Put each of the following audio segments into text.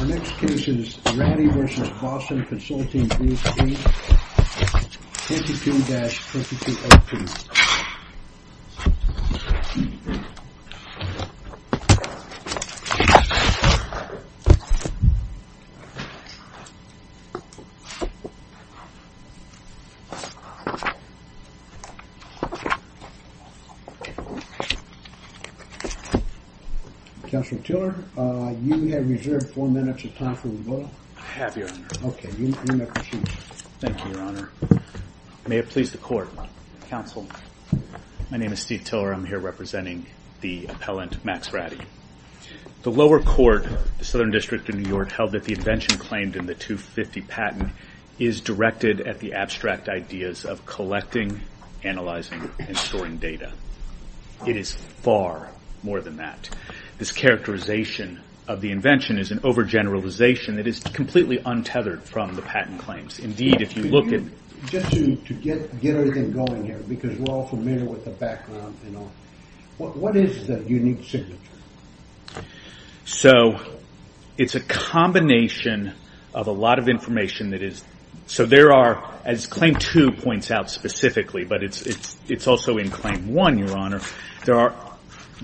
Our next case is Rady v. Boston Consulting Group, Inc., 52-3212. Counsel Tiller, you have reserved four minutes of time for rebuttal. I have, Your Honor. Okay, you may proceed. Thank you, Your Honor. May it please the Court. Counsel, my name is Steve Tiller. I am here representing the appellant, Max Rady. The lower court, the Southern District of New York, held that the invention claimed in the 250 patent is directed at the abstract ideas of collecting, analyzing, and storing data. It is far more than that. This characterization of the invention is an overgeneralization that is completely untethered from the patent claims. Just to get everything going here, because we are all familiar with the background, what is the unique signature? It is a combination of a lot of information. As Claim 2 points out specifically, but it is also in Claim 1, Your Honor,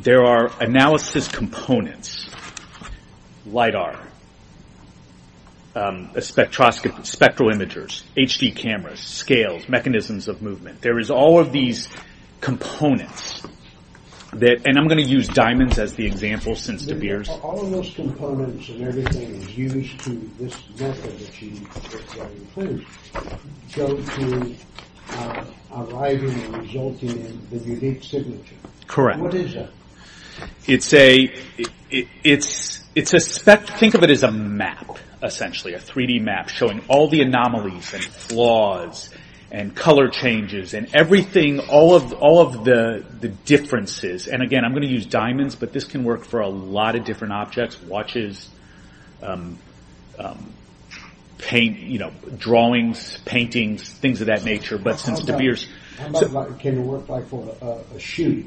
there are analysis components, LIDAR, spectral imagers, HD cameras, scales, mechanisms of movement. There is all of these components, and I am going to use diamonds as the example since De Beers. All of those components and everything is used to this method that you claim to go to arriving and resulting in the unique signature. Correct. What is that? Think of it as a map, essentially, a 3D map showing all the anomalies and flaws and color changes and everything, all of the differences, and again I am going to use diamonds, but a lot of different objects, watches, drawings, paintings, things of that nature, but since De Beers... How much can it work for a shoe?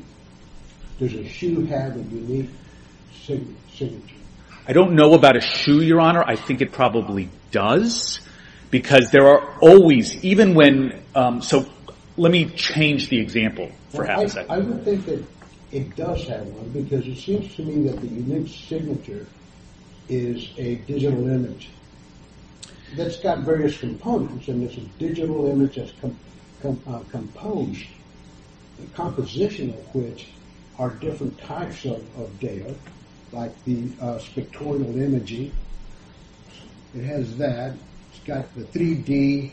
Does a shoe have a unique signature? I do not know about a shoe, Your Honor. I think it probably does, because there are always, even when, so let me change the example for half a second. I would think that it does have one, because it seems to me that the unique signature is a digital image that has got various components, and this is a digital image that is composed, the composition of which are different types of data, like the spectral imaging, it has that, it has got the 3D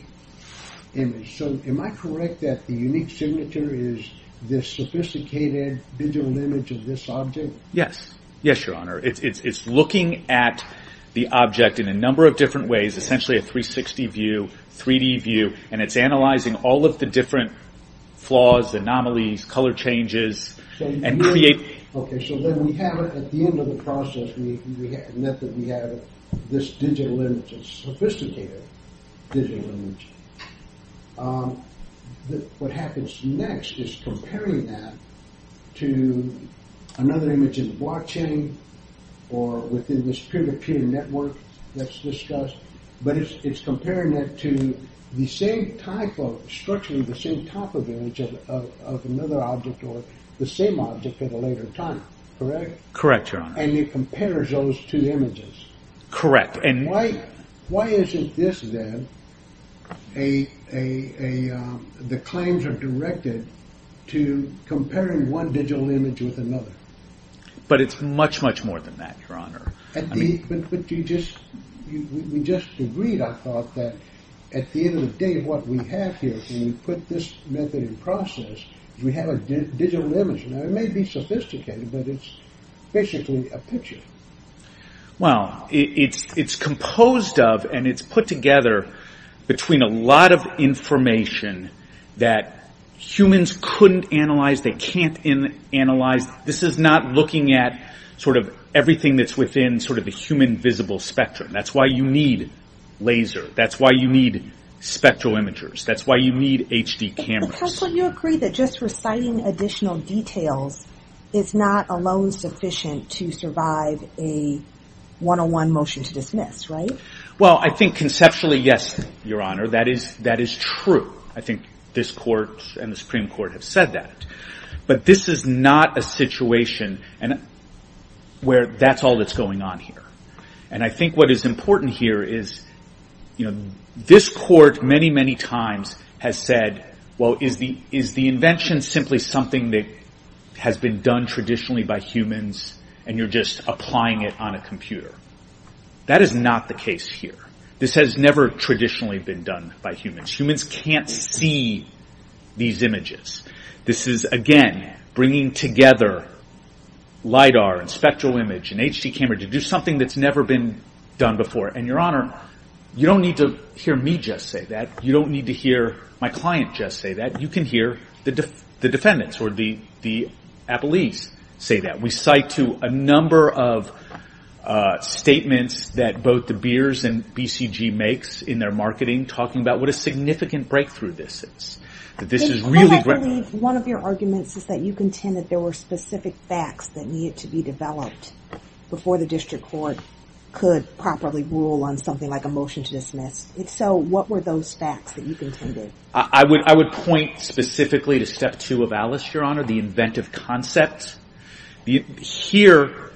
image. So am I correct that the unique signature is this sophisticated digital image of this object? Yes. Yes, Your Honor. It is looking at the object in a number of different ways, essentially a 360 view, 3D view, and it is analyzing all of the different flaws, anomalies, color changes, and creating... Okay, so then we have, at the end of the process, we have this digital image, a sophisticated digital image. What happens next is comparing that to another image in the blockchain, or within this peer-to-peer network that is discussed, but it is comparing that to the same type of, structurally the later time, correct? Correct, Your Honor. And it compares those two images. Correct. Why isn't this then, the claims are directed to comparing one digital image with another? But it is much, much more than that, Your Honor. But we just agreed, I thought, that at the end of the day, what we have here, when we look at this method and process, we have a digital image, and it may be sophisticated, but it is basically a picture. Well, it is composed of, and it is put together between a lot of information that humans couldn't analyze, they can't analyze. This is not looking at everything that is within the human visible spectrum. That is why you need laser. That is why you need spectral imagers. That is why you need HD cameras. But counsel, you agreed that just reciting additional details is not alone sufficient to survive a 101 motion to dismiss, right? Well, I think conceptually, yes, Your Honor, that is true. I think this court and the Supreme Court have said that. But this is not a situation where that is all that is going on here. I think what is important here is this court, many, many times, has said, well, is the invention simply something that has been done traditionally by humans, and you are just applying it on a computer? That is not the case here. This has never traditionally been done by humans. Humans can't see these images. This is, again, bringing together LIDAR and spectral image and HD camera to do something that has never been done before. Your Honor, you don't need to hear me just say that. You don't need to hear my client just say that. You can hear the defendants or the appellees say that. We cite to a number of statements that both the Beers and BCG makes in their marketing talking about what a significant breakthrough this is. This is really great. I believe one of your arguments is that you contend that there were specific facts that could properly rule on something like a motion to dismiss. If so, what were those facts that you contended? I would point specifically to step two of Alice, Your Honor, the inventive concept. Here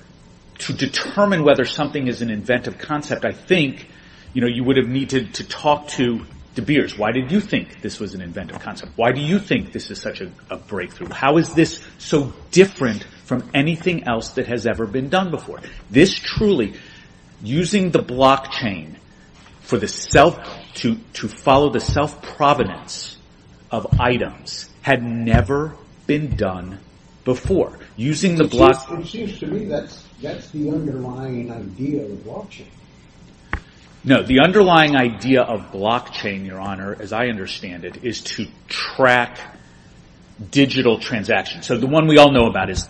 to determine whether something is an inventive concept, I think you would have needed to talk to the Beers. Why did you think this was an inventive concept? Why do you think this is such a breakthrough? How is this so different from anything else that has ever been done before? This truly, using the blockchain to follow the self-provenance of items had never been done before. It seems to me that's the underlying idea of blockchain. The underlying idea of blockchain, Your Honor, as I understand it, is to track digital transactions. The one we all know about is...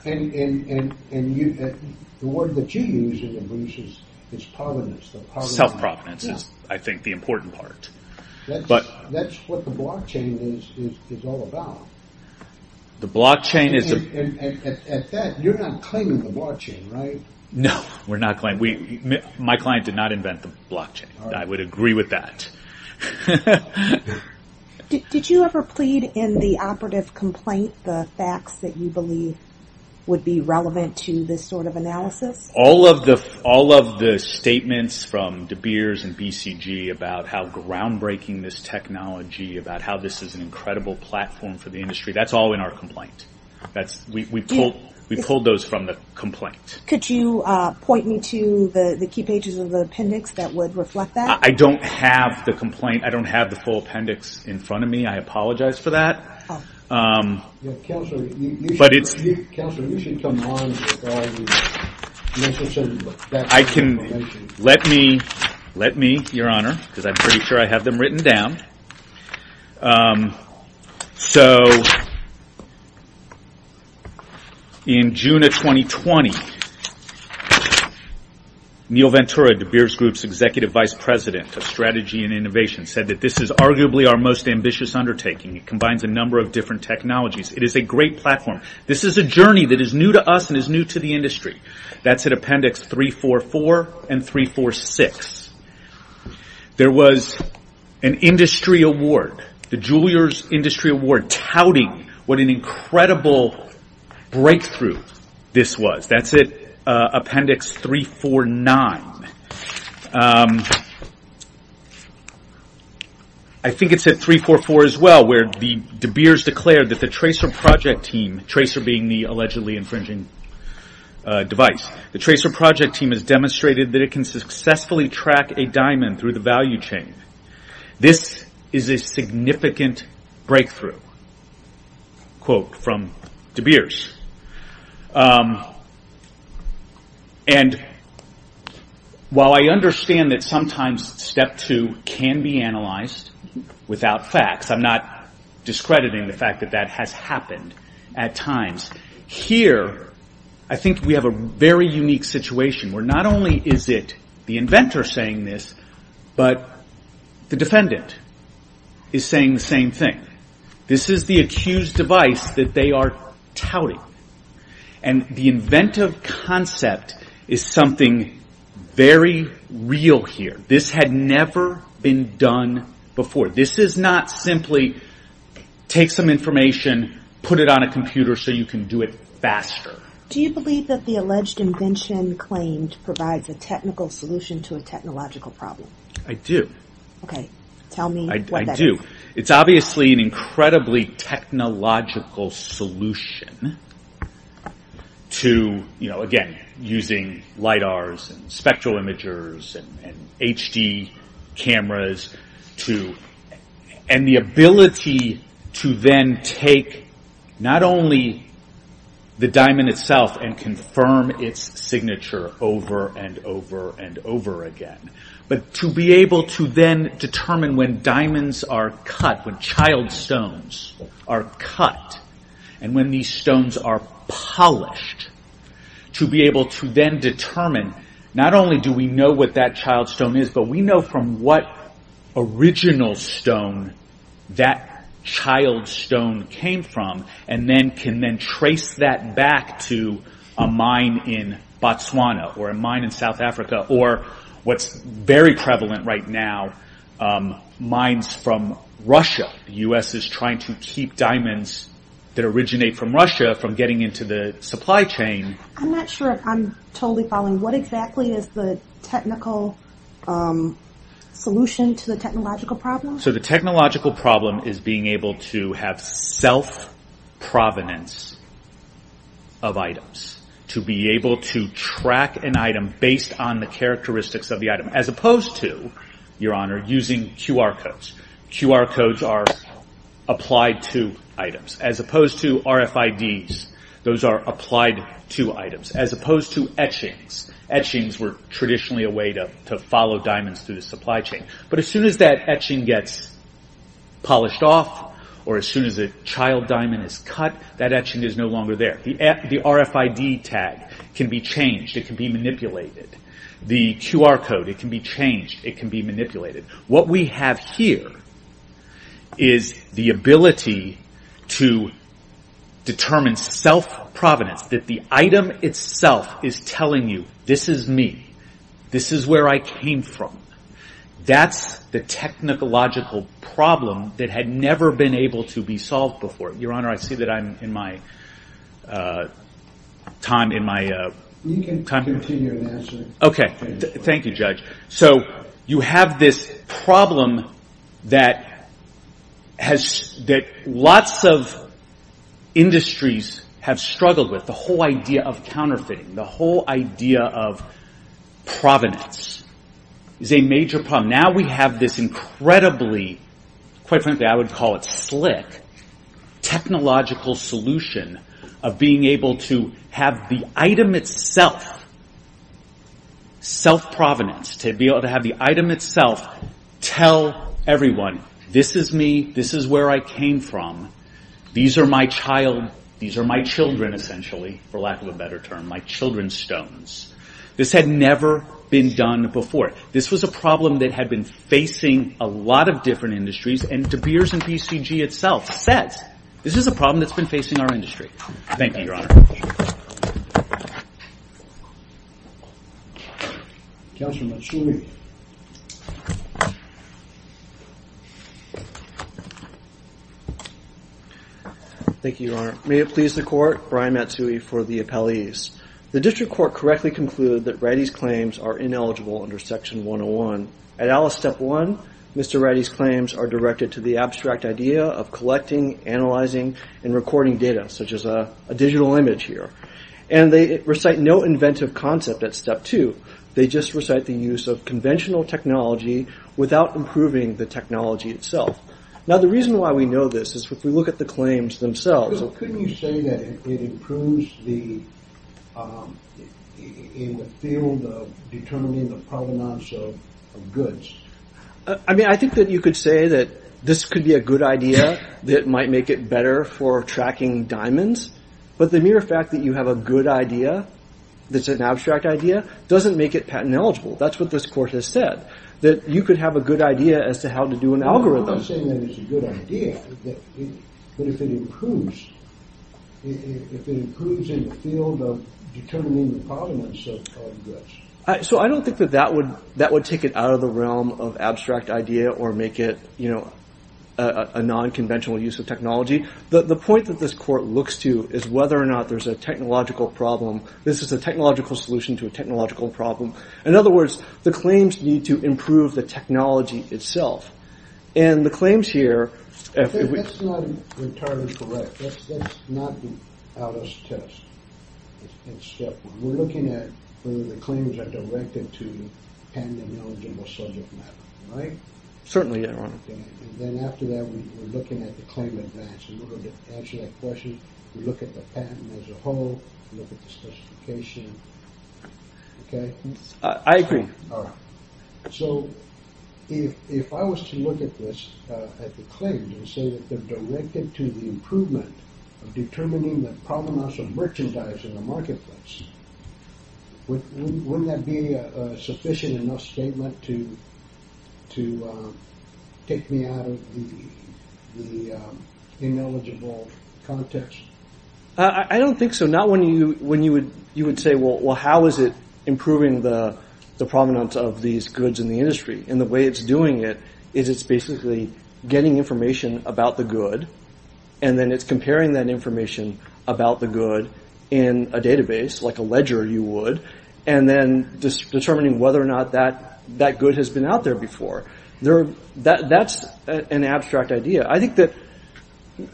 The word that you use is provenance. Self-provenance is, I think, the important part. That's what the blockchain is all about. The blockchain is... At that, you're not claiming the blockchain, right? No, we're not claiming. My client did not invent the blockchain. I would agree with that. Did you ever plead in the operative complaint the facts that you believe would be relevant to this sort of analysis? All of the statements from De Beers and BCG about how groundbreaking this technology, about how this is an incredible platform for the industry, that's all in our complaint. We pulled those from the complaint. Could you point me to the key pages of the appendix that would reflect that? I don't have the complaint. I don't have the full appendix in front of me. I apologize for that. Counselor, you should come on and describe the... I can... Let me, Your Honor, because I'm pretty sure I have them written down. In June of 2020, Neil Ventura, De Beers Group's Executive Vice President of Strategy and Innovation, said that this is arguably our most ambitious undertaking. It combines a number of different technologies. It is a great platform. This is a journey that is new to us and is new to the industry. That's at appendix 344 and 346. There was an industry award, the Juilliard Industry Award, touting what an incredible breakthrough this was. That's at appendix 349. I think it's at 344 as well, where De Beers declared that the Tracer Project Team, Tracer being the allegedly infringing device, the Tracer Project Team has demonstrated that it can successfully track a diamond through the value chain. This is a significant breakthrough, quote from De Beers. While I understand that sometimes step two can be analyzed without facts, I'm not discrediting the fact that that has happened at times. Here, I think we have a very unique situation, where not only is it the inventor saying this, but the defendant is saying the same thing. This is the accused device that they are touting. The inventive concept is something very real here. This had never been done before. This is not simply take some information, put it on a computer so you can do it faster. Do you believe that the alleged invention claimed provides a technical solution to a technological problem? I do. Tell me what that is. It's obviously an incredibly technological solution. Again, using LIDARs, spectral imagers, and HD cameras. The ability to then take not only the diamond itself and confirm its signature over and over and over again, but to be able to then determine when diamonds are cut, when child stones are cut, and when these stones are polished. To be able to then determine, not only do we know what that child stone is, but we know from what original stone that child stone came from, and can then trace that back to a mine in Botswana, or a mine in South Africa, or what's very prevalent right now, mines from Russia. The US is trying to keep diamonds that originate from Russia from getting into the supply chain. I'm not sure if I'm totally following. What exactly is the technical solution to the technological problem? The technological problem is being able to have self-provenance of items. To be able to track an item based on the characteristics of the item. As opposed to, Your Honor, using QR codes. QR codes are applied to items. As opposed to RFIDs, those are applied to items. As opposed to etchings. Etchings were traditionally a way to follow diamonds through the supply chain. As soon as that etching gets polished off, or as soon as a child diamond is cut, that etching is no longer there. The RFID tag can be changed. It can be manipulated. The QR code, it can be changed. It can be manipulated. What we have here is the ability to determine self-provenance. The item itself is telling you, this is me. This is where I came from. That's the technological problem that had never been able to be solved before. Your Honor, I see that I'm in my time. You can continue and answer. Thank you, Judge. You have this problem that lots of industries have struggled with. The whole idea of counterfeiting, the whole idea of provenance, is a major problem. Now we have this incredibly, quite frankly, I would call it slick, technological solution of being able to have the item itself, self-provenance, to be able to have the item itself tell everyone, this is me. This is where I came from. These are my child. Children, essentially, for lack of a better term. My children's stones. This had never been done before. This was a problem that had been facing a lot of different industries. De Beers and PCG itself says, this is a problem that's been facing our industry. Thank you, Your Honor. Thank you, Your Honor. May it please the Court, Brian Matsui for the appellees. The District Court correctly concluded that Wrighty's claims are ineligible under Section 101. At Alice Step 1, Mr. Wrighty's claims are directed to the abstract idea of collecting, analyzing, and recording data, such as a digital image here. And they recite no inventive concept at Step 2. They just recite the use of conventional technology without improving the technology itself. Now the reason why we know this is if we look at the claims themselves. Couldn't you say that it improves in the field of determining the provenance of goods? I mean, I think that you could say that this could be a good idea that might make it better for tracking diamonds. But the mere fact that you have a good idea that's an abstract idea doesn't make it patent eligible. That's what this Court has said. That you could have a good idea as to how to do an algorithm. I'm not saying that it's a good idea. But if it improves if it improves in the field of determining the provenance of goods. So I don't think that would take it out of the realm of abstract idea or make it, you know, a non-conventional use of technology. The point that this Court looks to is whether or not there's a technological problem. This is a technological solution to a technological problem. In other words, the claims need to improve the technology itself. And the claims here... That's not entirely correct. That's not the ALDOS test. It's step one. We're looking at whether the claims are directed to patent eligible subject matter, right? Certainly, Your Honor. And then after that, we're looking at the claim advance. And we're going to answer that question. We look at the patent as a whole. We look at the specification. Okay? I agree. So, if I was to look at this, at the claims and say that they're directed to the improvement of determining the provenance of merchandise in the marketplace, wouldn't that be a sufficient enough statement to take me out of the ineligible context? I don't think so. Not when you would say, well, how is it improving the provenance of these goods in the industry? And the way it's doing it is it's basically getting information about the good and then it's comparing that information about the good in a database like a ledger you would and then determining whether or not that good has been out there before. That's an abstract idea. I think that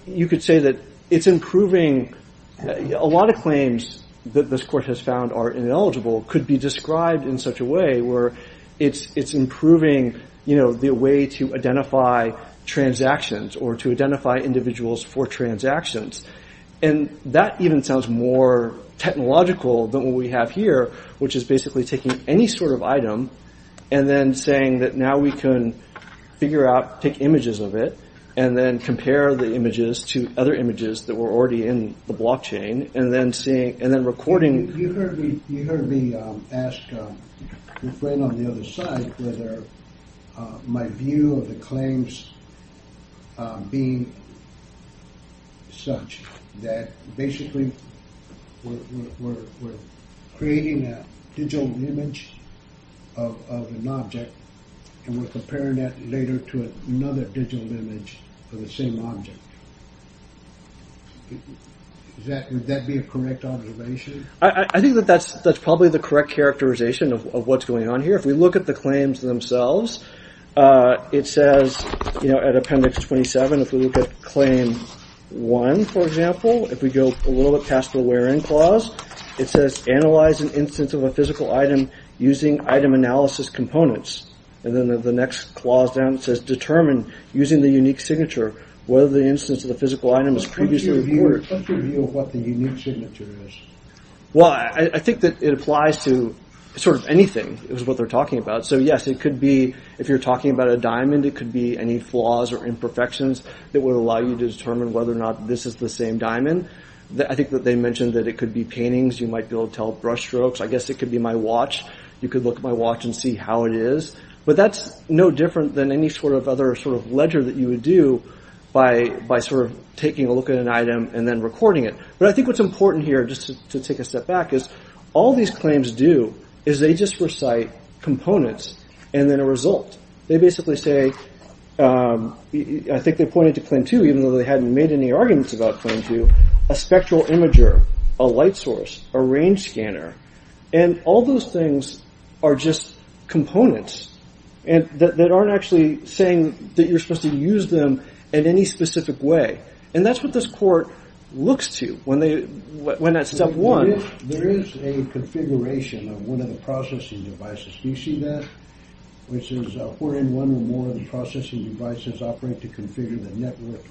you could say that it's improving... A lot of claims that this court has found are ineligible could be described in such a way where it's improving the way to identify transactions or to identify individuals for transactions. And that even sounds more technological than what we have here, which is basically taking any sort of item and then saying that now we can figure out, take images of it and then compare the images to other images that were already in the blockchain and then recording... You heard me ask a friend on the other side whether my view of the claims being such that basically we're creating a digital image of an object and we're comparing that later to another digital image of the same object. Would that be a correct observation? I think that's probably the correct characterization of what's going on here. If we look at the claims themselves it says at appendix 27, if we look at claim 1, for example if we go a little bit past the where in clause, it says analyze an instance of a physical item using item analysis components. And then the next clause down says determine using the unique signature whether the instance of the physical item is previously recorded. What's your view of what the unique signature is? I think that it applies to sort of anything, is what they're talking about. So yes, it could be if you're talking about a diamond, it could be any flaws or imperfections that would allow you to determine whether or not this is the same diamond. I think that they mentioned that it could be paintings, you might be able to tell brush strokes. I guess it could be my watch. You could look at my watch and see how it is. But that's no different than any sort of other sort of ledger that you would do by sort of taking a look at an item and then recording it. But I think what's important here, just to take a step back is all these claims do is they just recite components and then a result. They basically say I think they pointed to claim 2 even though they hadn't made any arguments about claim 2 a spectral imager, a light source, a range scanner and all those things are just components that aren't actually saying that you're supposed to use them in any specific way. And that's what this court looks to when at step 1 There is a configuration of one of the processing devices. Do you see that? Which is where in one or more of the processing devices operate to configure the network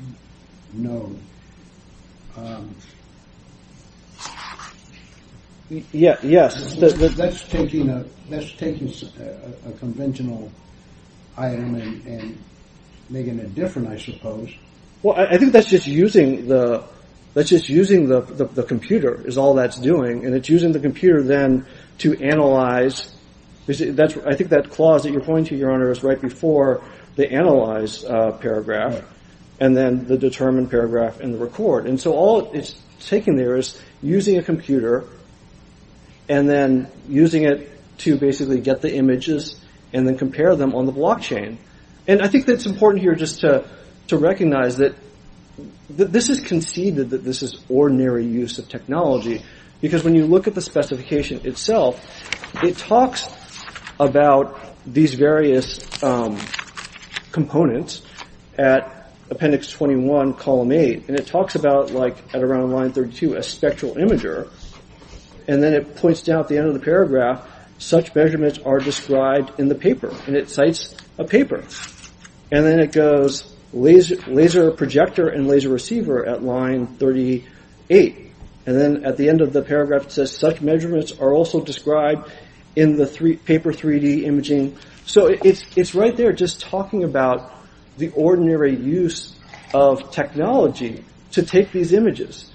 node. Um Yeah Yes That's taking a conventional item and making it different I suppose. Well I think that's just using the computer is all that's doing and it's using the computer then to analyze I think that clause that you're pointing to Your Honor is right before the analyze paragraph and then the determine paragraph and the record. And so all it's taking there is using a computer and then using it to basically get the images and then compare them on the blockchain. And I think that's important here just to recognize that this is conceded that this is ordinary use of technology because when you look at the specification itself, it talks about these various components at appendix 21 column 8. And it talks about like at around line 32 a spectral imager and then it points down at the end of the paragraph such measurements are described in the paper and it cites a paper and then it goes laser projector and laser receiver at line 38 and then at the end of the paragraph it says such measurements are also described in the paper 3D imaging. So it's right there just talking about the ordinary use of technology to take these images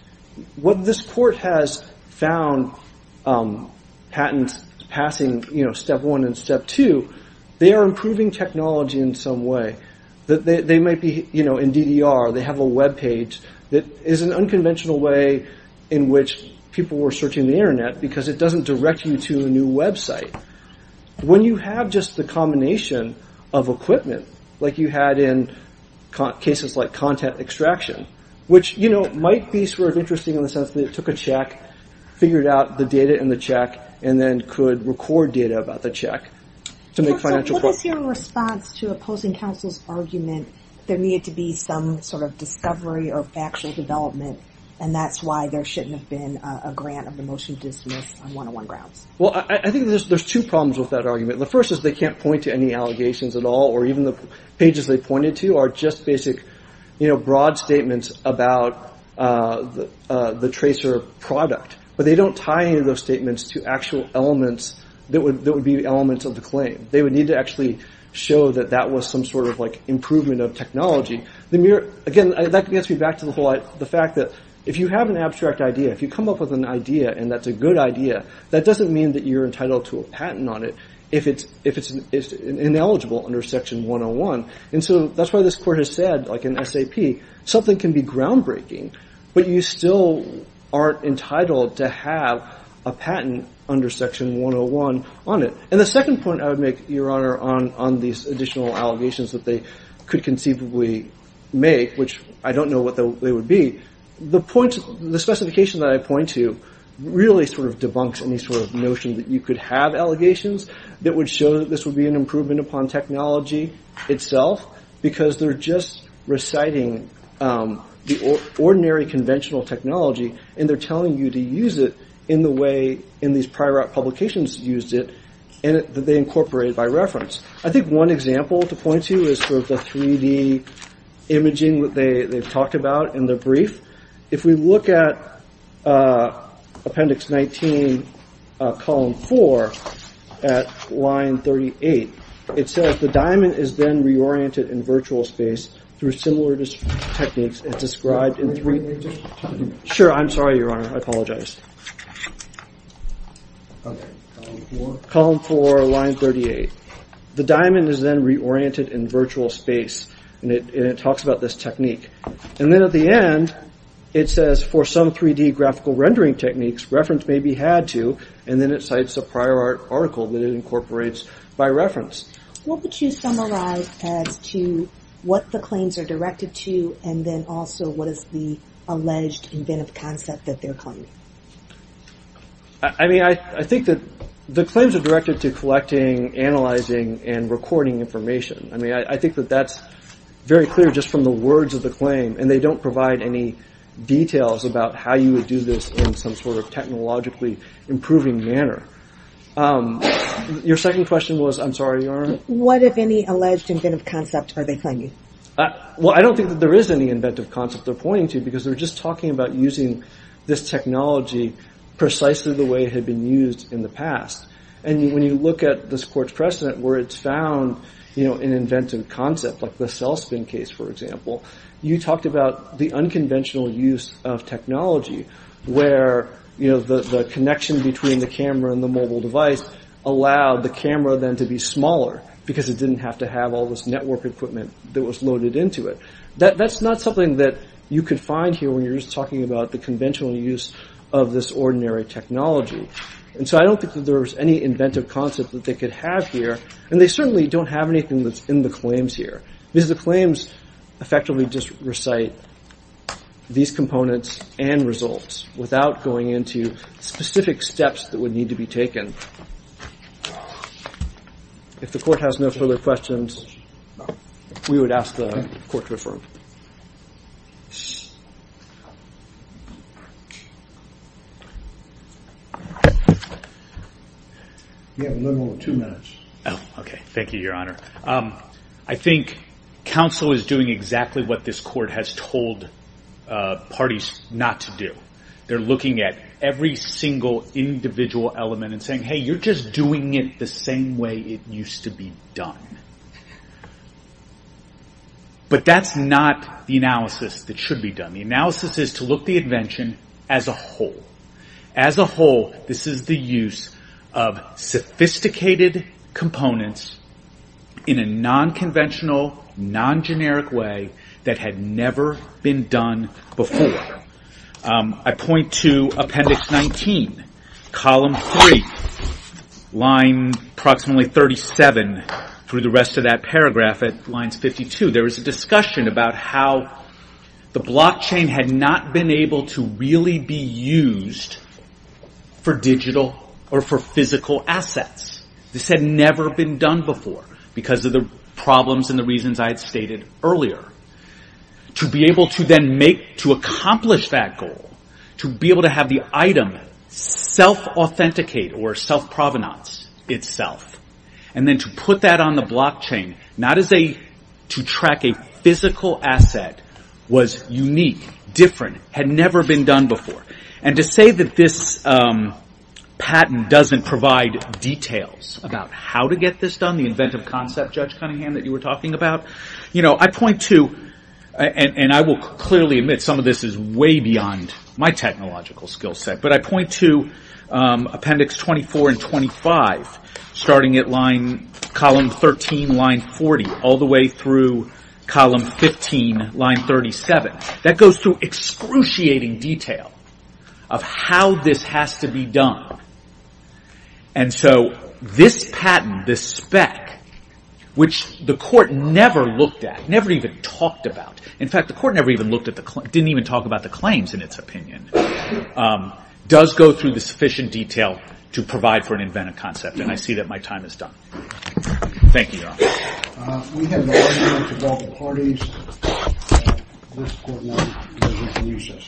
what this court has found patents passing step 1 and step 2 they are improving technology in some way they might be in DDR they have a webpage that is an unconventional way in which people were searching the internet because it doesn't direct you to a new website when you have just the combination of equipment like you had in cases like content extraction which might be sort of interesting in the sense that it took a check figured out the data in the check and then could record data about the check to make financial... What is your response to opposing counsel's argument there needed to be some sort of discovery or factual development and that's why there shouldn't have been a grant of the motion to dismiss I think there's two problems with that argument the first is they can't point to any allegations at all or even the pages they pointed to are just basic broad statements about the tracer product but they don't tie any of those statements to actual elements that would be elements of the claim they would need to actually show that that was some sort of improvement of technology that gets me back to the fact that if you have an abstract idea if you come up with an idea and that's a good idea that doesn't mean that you're entitled to a patent on it if it's ineligible under section 101 and so that's why this court has said like in SAP something can be groundbreaking but you still aren't entitled to have a patent under section 101 on it and the second point I would make your honor on these additional allegations that they could conceivably make which I don't know what they would be the specification that I point to really sort of debunks any sort of notion that you could have allegations that would show that this would be an improvement upon technology itself because they're just reciting the ordinary conventional technology and they're telling you to use it in the way in these prior publications used it that they incorporated by reference I think one example to point to is the 3D imaging that they've talked about in the brief if we look at appendix 19 column 4 at line 38 it says the diamond is then reoriented in virtual space through similar techniques described in 3D sure I'm sorry your honor I apologize column 4 line 38 the diamond is then reoriented in virtual space and it talks about this technique and then at the end it says for some 3D graphical rendering techniques reference may be had to and then it cites a prior article that it incorporates by reference what would you summarize as to what the claims are directed to and then also what is the alleged inventive concept that they're claiming I mean I think that the claims are directed to collecting analyzing and recording information I mean I think that that's very clear just from the words of the claim and they don't provide any details about how you would do this in some sort of technologically improving manner your second question was I'm sorry your honor what if any alleged inventive concept are they claiming well I don't think there is any inventive concept they're pointing to because they're just talking about using this technology precisely the way it had been used in the past and when you look at this court's precedent where it's found an inventive concept like the cell spin case for example you talked about the unconventional use of technology where the connection between the camera and the mobile device allowed the camera then to be smaller because it didn't have to have all this network equipment that was loaded into it that's not something that you could find here when you're just talking about the conventional use of this ordinary technology and so I don't think that there's any and they certainly don't have anything that's in the claims here because the claims effectively just recite these components and results without going into specific steps that would need to be taken if the court has no further questions we would ask the court to affirm yes you have a little over two minutes thank you your honor I think counsel is doing exactly what this court has told parties not to do they're looking at every single individual element and saying hey you're just doing it the same way it used to be done but that's not the analysis that should be done the analysis is to look at the invention as a whole as a whole this is the use of sophisticated components in a non-conventional non-generic way that had never been done before I point to appendix 19 column 3 line approximately 37 through the rest of that paragraph at lines 52 there was a discussion about how the blockchain had not been able to really be used for digital or for physical assets this had never been done before because of the problems and the reasons I had stated earlier to be able to then make to accomplish that goal to be able to have the item self authenticate or self provenance itself to put that on the blockchain to track a physical asset was unique different had never been done before and to say that this patent doesn't provide details about how to get this done the inventive concept Judge Cunningham that you were talking about I point to and I will clearly admit some of this is way beyond my technological skill set but I point to appendix 24 and 25 starting at line column 13 line 40 all the way through column 15 line 37 that goes through excruciating detail of how this has to be done and so this patent this spec which the court never looked at never even talked about didn't even talk about the claims in its opinion does go through the sufficient detail to provide for an inventive concept and I see that my time is done Thank you